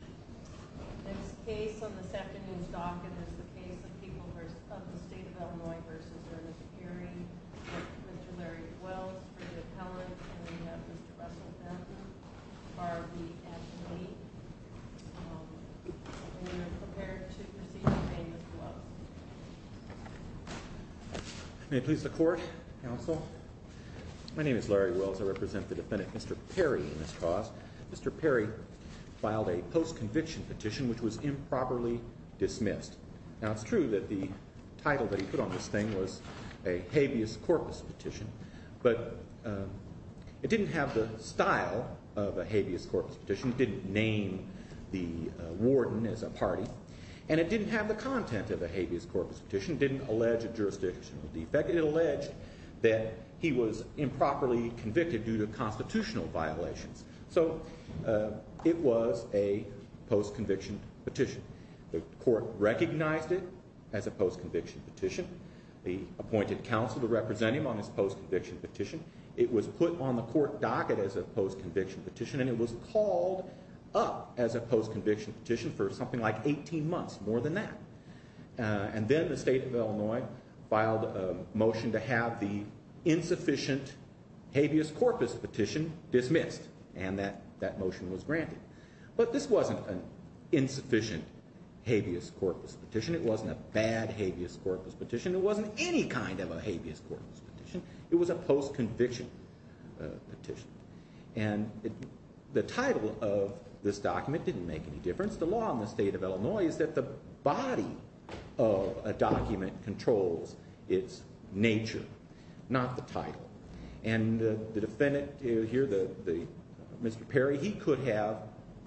This case on the second news docket is the case of the people of the state of Illinois v. Ernest Perry. Mr. Larry Wells, for the appellate, and we have Mr. Russell Patton, R.V.S. Lee. And we are prepared to proceed to name this case. May it please the Court, Counsel. My name is Larry Wells. I represent the defendant, Mr. Perry, in this cause. Mr. Perry filed a post-conviction petition which was improperly dismissed. Now, it's true that the title that he put on this thing was a habeas corpus petition, but it didn't have the style of a habeas corpus petition. It didn't name the warden as a party, and it didn't have the content of a habeas corpus petition. The petition didn't allege a jurisdictional defect. It alleged that he was improperly convicted due to constitutional violations. So, it was a post-conviction petition. The Court recognized it as a post-conviction petition. They appointed counsel to represent him on this post-conviction petition. It was put on the Court docket as a post-conviction petition, and it was called up as a post-conviction petition for something like 18 months, more than that. And then the state of Illinois filed a motion to have the insufficient habeas corpus petition dismissed, and that motion was granted. But this wasn't an insufficient habeas corpus petition. It wasn't a bad habeas corpus petition. It wasn't any kind of a habeas corpus petition. It was a post-conviction petition. And the title of this document didn't make any difference. The law in the state of Illinois is that the body of a document controls its nature, not the title. And the defendant here, Mr. Perry, he could have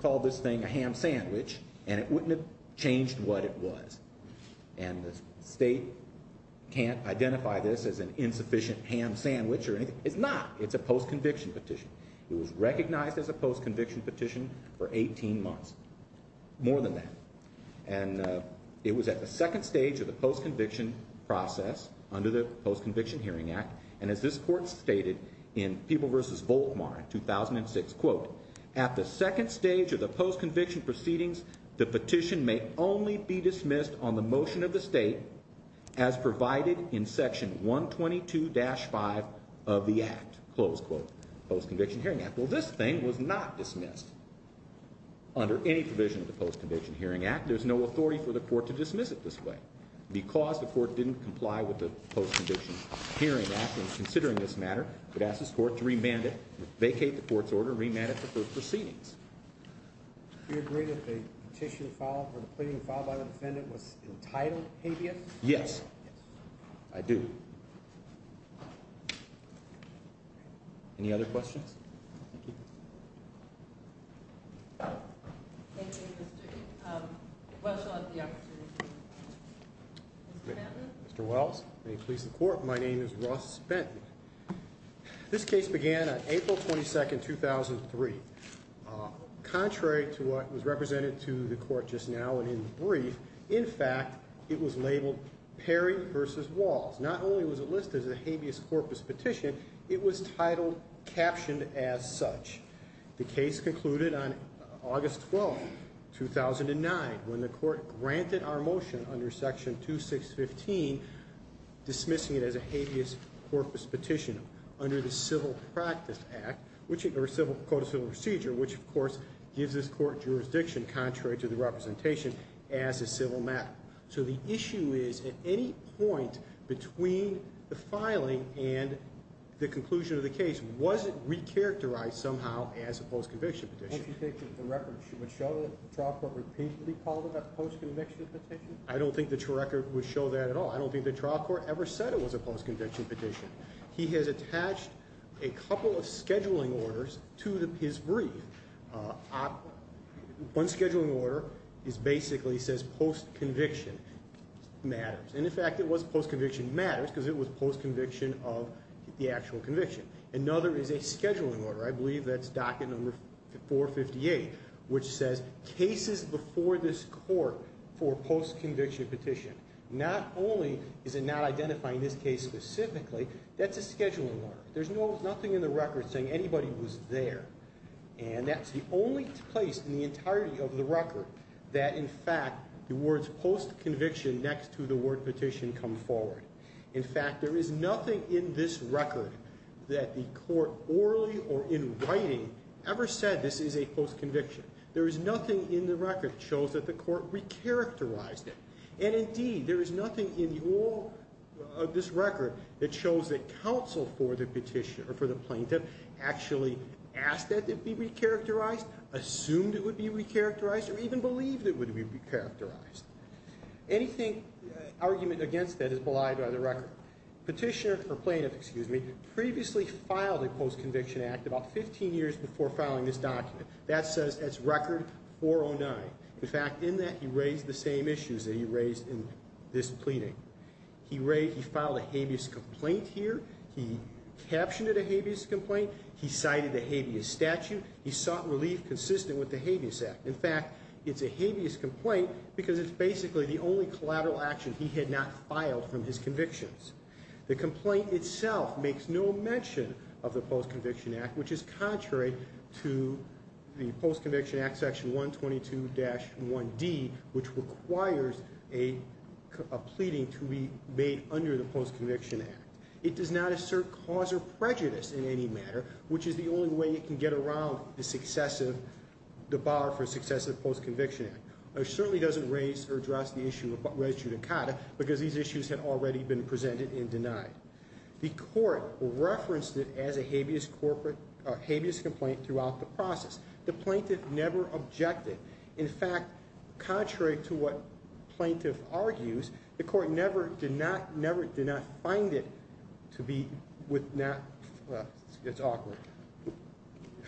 called this thing a ham sandwich, and it wouldn't have changed what it was. And the state can't identify this as an insufficient ham sandwich or anything. It's not. It's a post-conviction petition. It was recognized as a post-conviction petition for 18 months, more than that. And it was at the second stage of the post-conviction process under the Post-Conviction Hearing Act. And as this Court stated in People v. Volkmar in 2006, quote, at the second stage of the post-conviction proceedings, the petition may only be dismissed on the motion of the state, as provided in Section 122-5 of the Act, close quote, Post-Conviction Hearing Act. Well, this thing was not dismissed under any provision of the Post-Conviction Hearing Act. There's no authority for the Court to dismiss it this way. Because the Court didn't comply with the Post-Conviction Hearing Act in considering this matter, it asks this Court to remand it, vacate the Court's order, and remand it for further proceedings. Do you agree that the petition filed, or the petition filed by the defendant, was entitled habeas? Yes. I do. Any other questions? Thank you. Thank you, Mr. Welch. I'll let the opportunity to speak. Mr. Welch, may it please the Court, my name is Russ Benton. This case began on April 22, 2003. Contrary to what was represented to the Court just now and in the brief, in fact, it was labeled Perry v. Walls. Not only was it listed as a habeas corpus petition, it was titled, captioned as such. The case concluded on August 12, 2009, when the Court granted our motion under Section 2615, dismissing it as a habeas corpus petition under the Civil Practice Act, or Code of Civil Procedure, which, of course, gives this Court jurisdiction, contrary to the representation, as a civil matter. So the issue is, at any point between the filing and the conclusion of the case, was it recharacterized somehow as a post-conviction petition? Don't you think that the record would show that the trial court repeatedly called it a post-conviction petition? I don't think the record would show that at all. I don't think the trial court ever said it was a post-conviction petition. He has attached a couple of scheduling orders to his brief. One scheduling order basically says post-conviction matters. And, in fact, it was post-conviction matters because it was post-conviction of the actual conviction. Another is a scheduling order. I believe that's docket number 458, which says cases before this Court for post-conviction petition. Not only is it not identifying this case specifically, that's a scheduling order. There's nothing in the record saying anybody was there. And that's the only place in the entirety of the record that, in fact, the words post-conviction next to the word petition come forward. In fact, there is nothing in this record that the Court orally or in writing ever said this is a post-conviction. There is nothing in the record that shows that the Court recharacterized it. And, indeed, there is nothing in all of this record that shows that counsel for the petitioner or for the plaintiff actually asked that it be recharacterized, assumed it would be recharacterized, or even believed it would be recharacterized. Anything argument against that is belied by the record. Petitioner or plaintiff, excuse me, previously filed a post-conviction act about 15 years before filing this document. That says it's record 409. In fact, in that he raised the same issues that he raised in this pleading. He filed a habeas complaint here. He captioned it a habeas complaint. He cited the habeas statute. He sought relief consistent with the habeas act. In fact, it's a habeas complaint because it's basically the only collateral action he had not filed from his convictions. The complaint itself makes no mention of the post-conviction act, which is contrary to the post-conviction act section 122-1D, which requires a pleading to be made under the post-conviction act. It does not assert cause or prejudice in any matter, which is the only way it can get around the bar for successive post-conviction act. It certainly doesn't raise or address the issue of res judicata because these issues had already been presented and denied. The court referenced it as a habeas complaint throughout the process. The plaintiff never objected. In fact, contrary to what plaintiff argues, the court never did not find it to be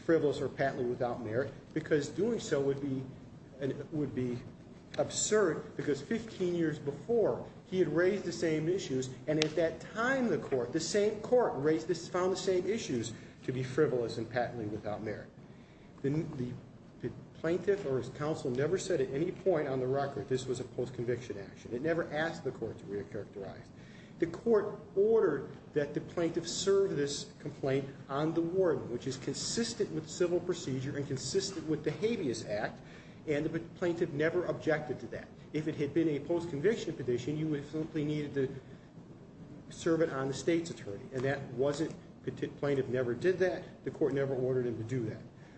frivolous or patently without merit because doing so would be absurd because 15 years before he had raised the same issues and at that time the same court found the same issues to be frivolous and patently without merit. The plaintiff or his counsel never said at any point on the record this was a post-conviction action. It never asked the court to re-characterize. The court ordered that the plaintiff serve this complaint on the warden, which is consistent with civil procedure and consistent with the habeas act, and the plaintiff never objected to that. If it had been a post-conviction petition, you would have simply needed to serve it on the state's attorney, and the plaintiff never did that. The court never ordered him to do that.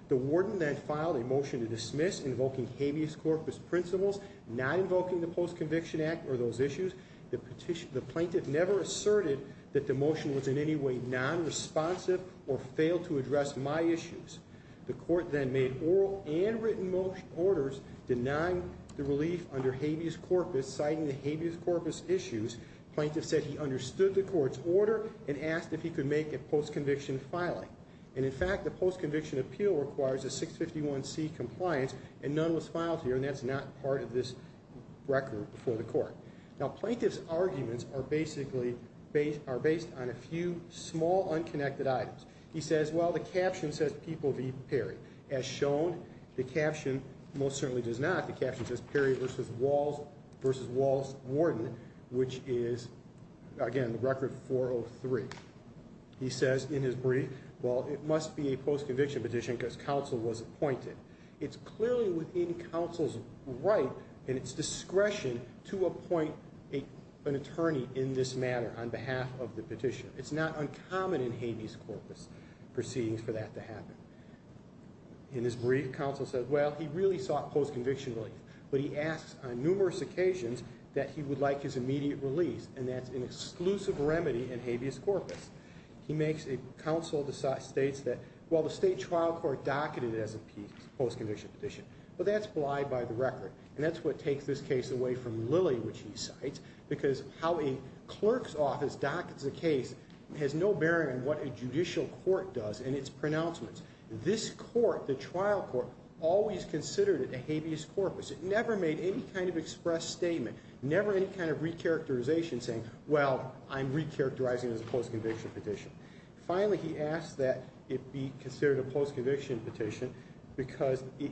The warden then filed a motion to dismiss, invoking habeas corpus principles, not invoking the post-conviction act or those issues. The plaintiff never asserted that the motion was in any way non-responsive or failed to address my issues. The court then made oral and written motion orders denying the relief under habeas corpus, citing the habeas corpus issues. Plaintiff said he understood the court's order and asked if he could make a post-conviction filing. And in fact, the post-conviction appeal requires a 651C compliance and none was filed here, and that's not part of this record for the court. Now, plaintiff's arguments are based on a few small, unconnected items. He says, well, the caption says people v. Perry. As shown, the caption most certainly does not. The caption says Perry v. Walls warden, which is, again, record 403. He says in his brief, well, it must be a post-conviction petition because counsel was appointed. It's clearly within counsel's right and its discretion to appoint an attorney in this matter on behalf of the petitioner. It's not uncommon in habeas corpus proceedings for that to happen. In his brief, counsel says, well, he really sought post-conviction relief, but he asks on numerous occasions that he would like his immediate release, and that's an exclusive remedy in habeas corpus. He makes a counsel that states that, well, the state trial court docketed it as a post-conviction petition, but that's blithe by the record, and that's what takes this case away from Lilly, which he cites, because how a clerk's office dockets a case has no bearing on what a judicial court does and its pronouncements. This court, the trial court, always considered it a habeas corpus. It never made any kind of express statement, never any kind of recharacterization saying, well, I'm recharacterizing it as a post-conviction petition. Finally, he asks that it be considered a post-conviction petition because it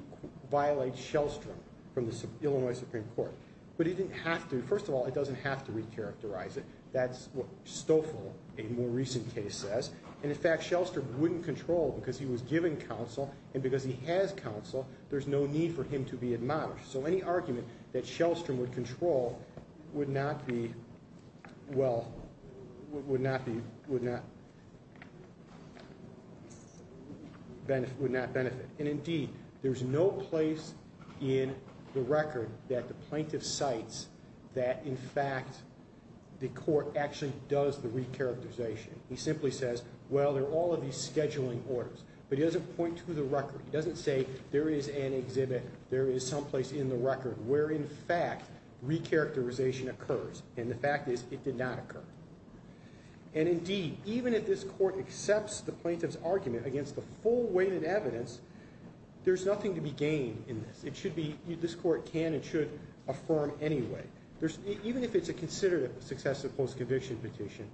violates Shellstrom from the Illinois Supreme Court. But he didn't have to. First of all, it doesn't have to recharacterize it. That's what Stoffel, a more recent case, says. And, in fact, Shellstrom wouldn't control because he was given counsel, and because he has counsel, there's no need for him to be admonished. So any argument that Shellstrom would control would not be, well, would not be, would not benefit. And, indeed, there's no place in the record that the plaintiff cites that, in fact, the court actually does the recharacterization. He simply says, well, there are all of these scheduling orders. But he doesn't point to the record. He doesn't say there is an exhibit, there is someplace in the record where, in fact, recharacterization occurs. And the fact is it did not occur. And, indeed, even if this court accepts the plaintiff's argument against the full-weighted evidence, there's nothing to be gained in this. It should be, this court can and should affirm anyway. Even if it's a considerate successive post-conviction petition,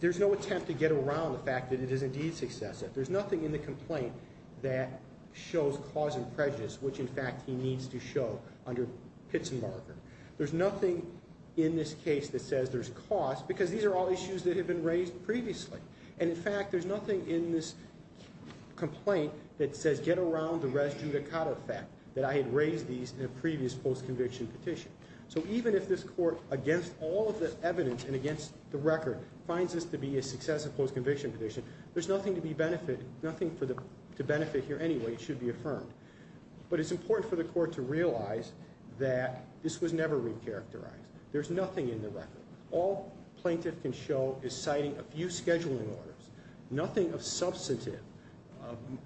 there's no attempt to get around the fact that it is indeed successive. There's nothing in the complaint that shows cause and prejudice, which, in fact, he needs to show under Pitts and Barker. There's nothing in this case that says there's cause because these are all issues that have been raised previously. And, in fact, there's nothing in this complaint that says get around the res judicata fact that I had raised these in a previous post-conviction petition. So even if this court, against all of the evidence and against the record, finds this to be a successive post-conviction petition, there's nothing to benefit here anyway. It should be affirmed. But it's important for the court to realize that this was never re-characterized. There's nothing in the record. All plaintiff can show is citing a few scheduling orders, nothing of substantive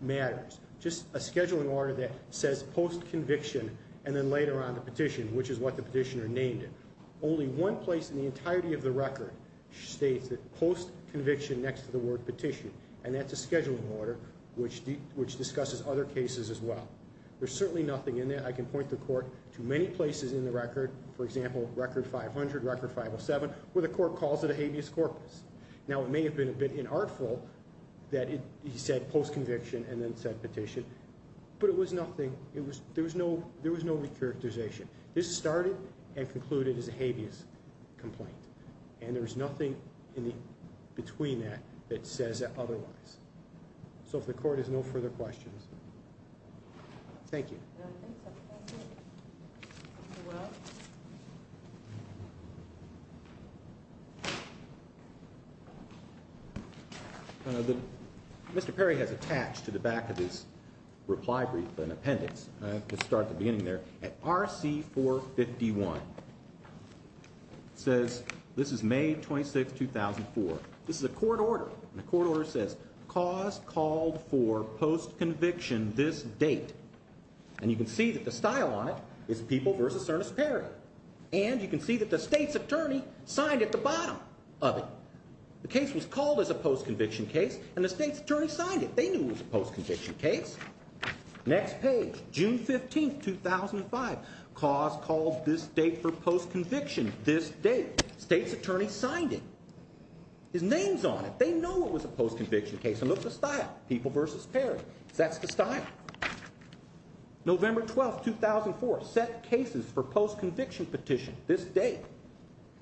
matters, just a scheduling order that says post-conviction and then later on the petition, which is what the petitioner named it. Only one place in the entirety of the record states that post-conviction next to the word petition, and that's a scheduling order which discusses other cases as well. There's certainly nothing in there. I can point the court to many places in the record, for example, Record 500, Record 507, where the court calls it a habeas corpus. Now, it may have been a bit inartful that he said post-conviction and then said petition, but it was nothing. There was no re-characterization. This started and concluded as a habeas complaint, and there's nothing in between that that says otherwise. So if the court has no further questions. Thank you. Mr. Perry has attached to the back of his reply brief an appendix. Let's start at the beginning there. At RC 451, it says this is May 26, 2004. This is a court order, and the court order says cause called for post-conviction this date. And you can see that the style on it is People v. Cernus Perry, and you can see that the state's attorney signed at the bottom of it. The case was called as a post-conviction case, and the state's attorney signed it. They knew it was a post-conviction case. Next page, June 15, 2005. Cause called this date for post-conviction this date. State's attorney signed it. His name's on it. They know it was a post-conviction case, and look at the style, People v. Perry. That's the style. November 12, 2004, set cases for post-conviction petition this date.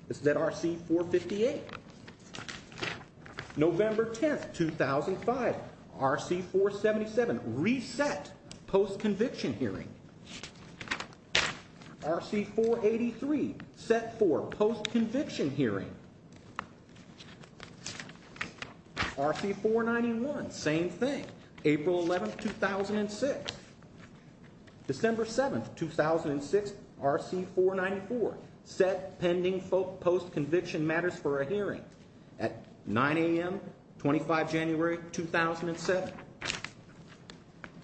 This is at RC 458. November 10, 2005, RC 477, reset post-conviction hearing. RC 483, set for post-conviction hearing. RC 491, same thing, April 11, 2006. December 7, 2006, RC 494, set pending post-conviction matters for a hearing at 9 a.m., 25 January, 2007.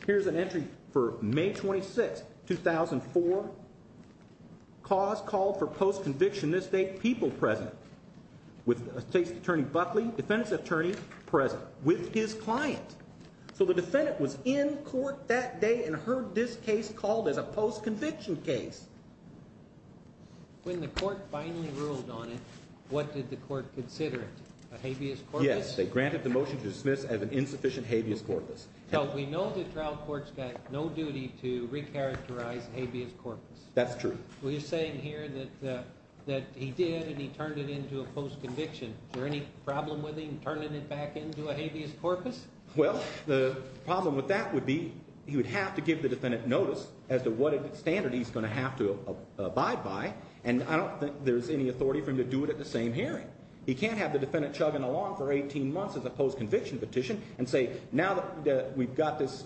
Here's an entry for May 26, 2004. Cause called for post-conviction this date, People present, with state's attorney Buckley, defendant's attorney present, with his client. So the defendant was in court that day and heard this case called as a post-conviction case. When the court finally ruled on it, what did the court consider it? A habeas corpus? Yes, they granted the motion to dismiss as an insufficient habeas corpus. Now, we know the trial court's got no duty to recharacterize habeas corpus. That's true. Well, you're saying here that he did and he turned it into a post-conviction. Is there any problem with him turning it back into a habeas corpus? Well, the problem with that would be he would have to give the defendant notice as to what standard he's going to have to abide by. And I don't think there's any authority for him to do it at the same hearing. He can't have the defendant chugging along for 18 months as a post-conviction petition and say, now that we've got this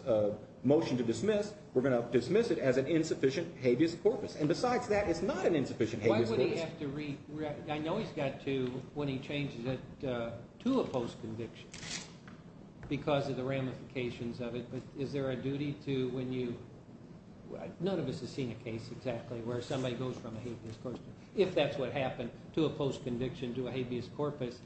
motion to dismiss, we're going to dismiss it as an insufficient habeas corpus. And besides that, it's not an insufficient habeas corpus. I know he's got to when he changes it to a post-conviction because of the ramifications of it. But is there a duty to when you – none of us has seen a case exactly where somebody goes from a habeas corpus, if that's what happened, to a post-conviction to a habeas corpus.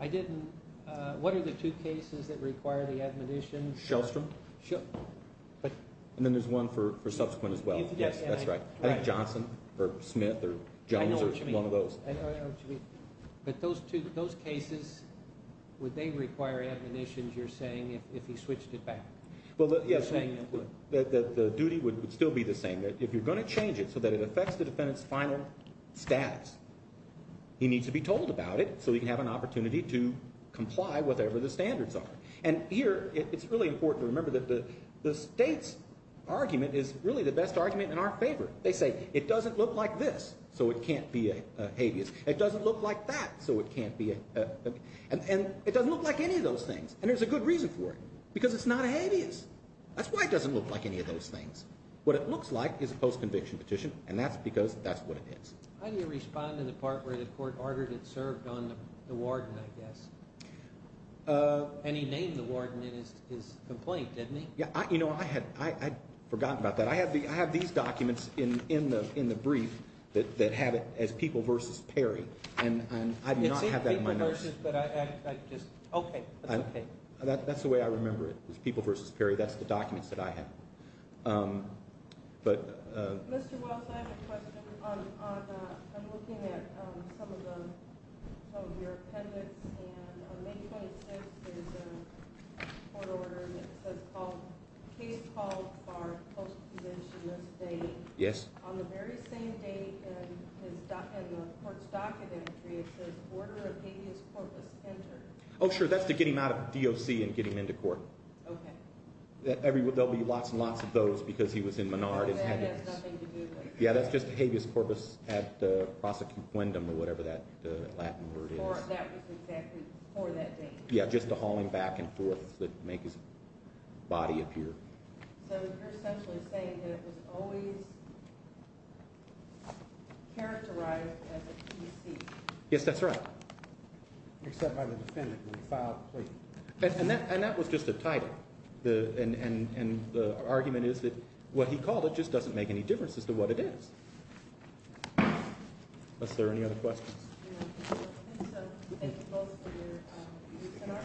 I didn't – what are the two cases that require the admonition? Shellstrom? Shell – And then there's one for subsequent as well. Yes, that's right. Johnson or Smith or Jones or one of those. I know what you mean. I know what you mean. But those two – those cases, would they require admonitions, you're saying, if he switched it back? Well, yes. You're saying that would. The duty would still be the same. If you're going to change it so that it affects the defendant's final status, he needs to be told about it so he can have an opportunity to comply whatever the standards are. And here it's really important to remember that the state's argument is really the best argument in our favor. They say it doesn't look like this, so it can't be a habeas. It doesn't look like that, so it can't be a – and it doesn't look like any of those things. And there's a good reason for it, because it's not a habeas. That's why it doesn't look like any of those things. What it looks like is a post-conviction petition, and that's because that's what it is. How do you respond to the part where the court argued it served on the warden, I guess? And he named the warden in his complaint, didn't he? Yeah. You know, I had forgotten about that. I have these documents in the brief that have it as people versus Perry, and I do not have that in my notice. It's people versus, but I just – okay. That's okay. That's the way I remember it, is people versus Perry. That's the documents that I have. But – Mr. Wells, I have a question. I'm looking at some of the – some of your appendix, and on May 26th there's a court order, and it says called – case called for post-conviction this day. Yes. On the very same day in the court's docket entry, it says order of habeas corpus entered. Oh, sure. That's to get him out of DOC and get him into court. Okay. There'll be lots and lots of those because he was in Menard. That has nothing to do with it. Yeah, that's just habeas corpus ad prosecutuendum or whatever that Latin word is. That was exactly for that day. Yeah, just to haul him back and forth to make his body appear. So you're essentially saying that it was always characterized as a PC. Yes, that's right. Except by the defendant when he filed the plea. And that was just a title. And the argument is that what he called it just doesn't make any difference as to what it is. Unless there are any other questions. Okay. Thank you both for your – and our parents.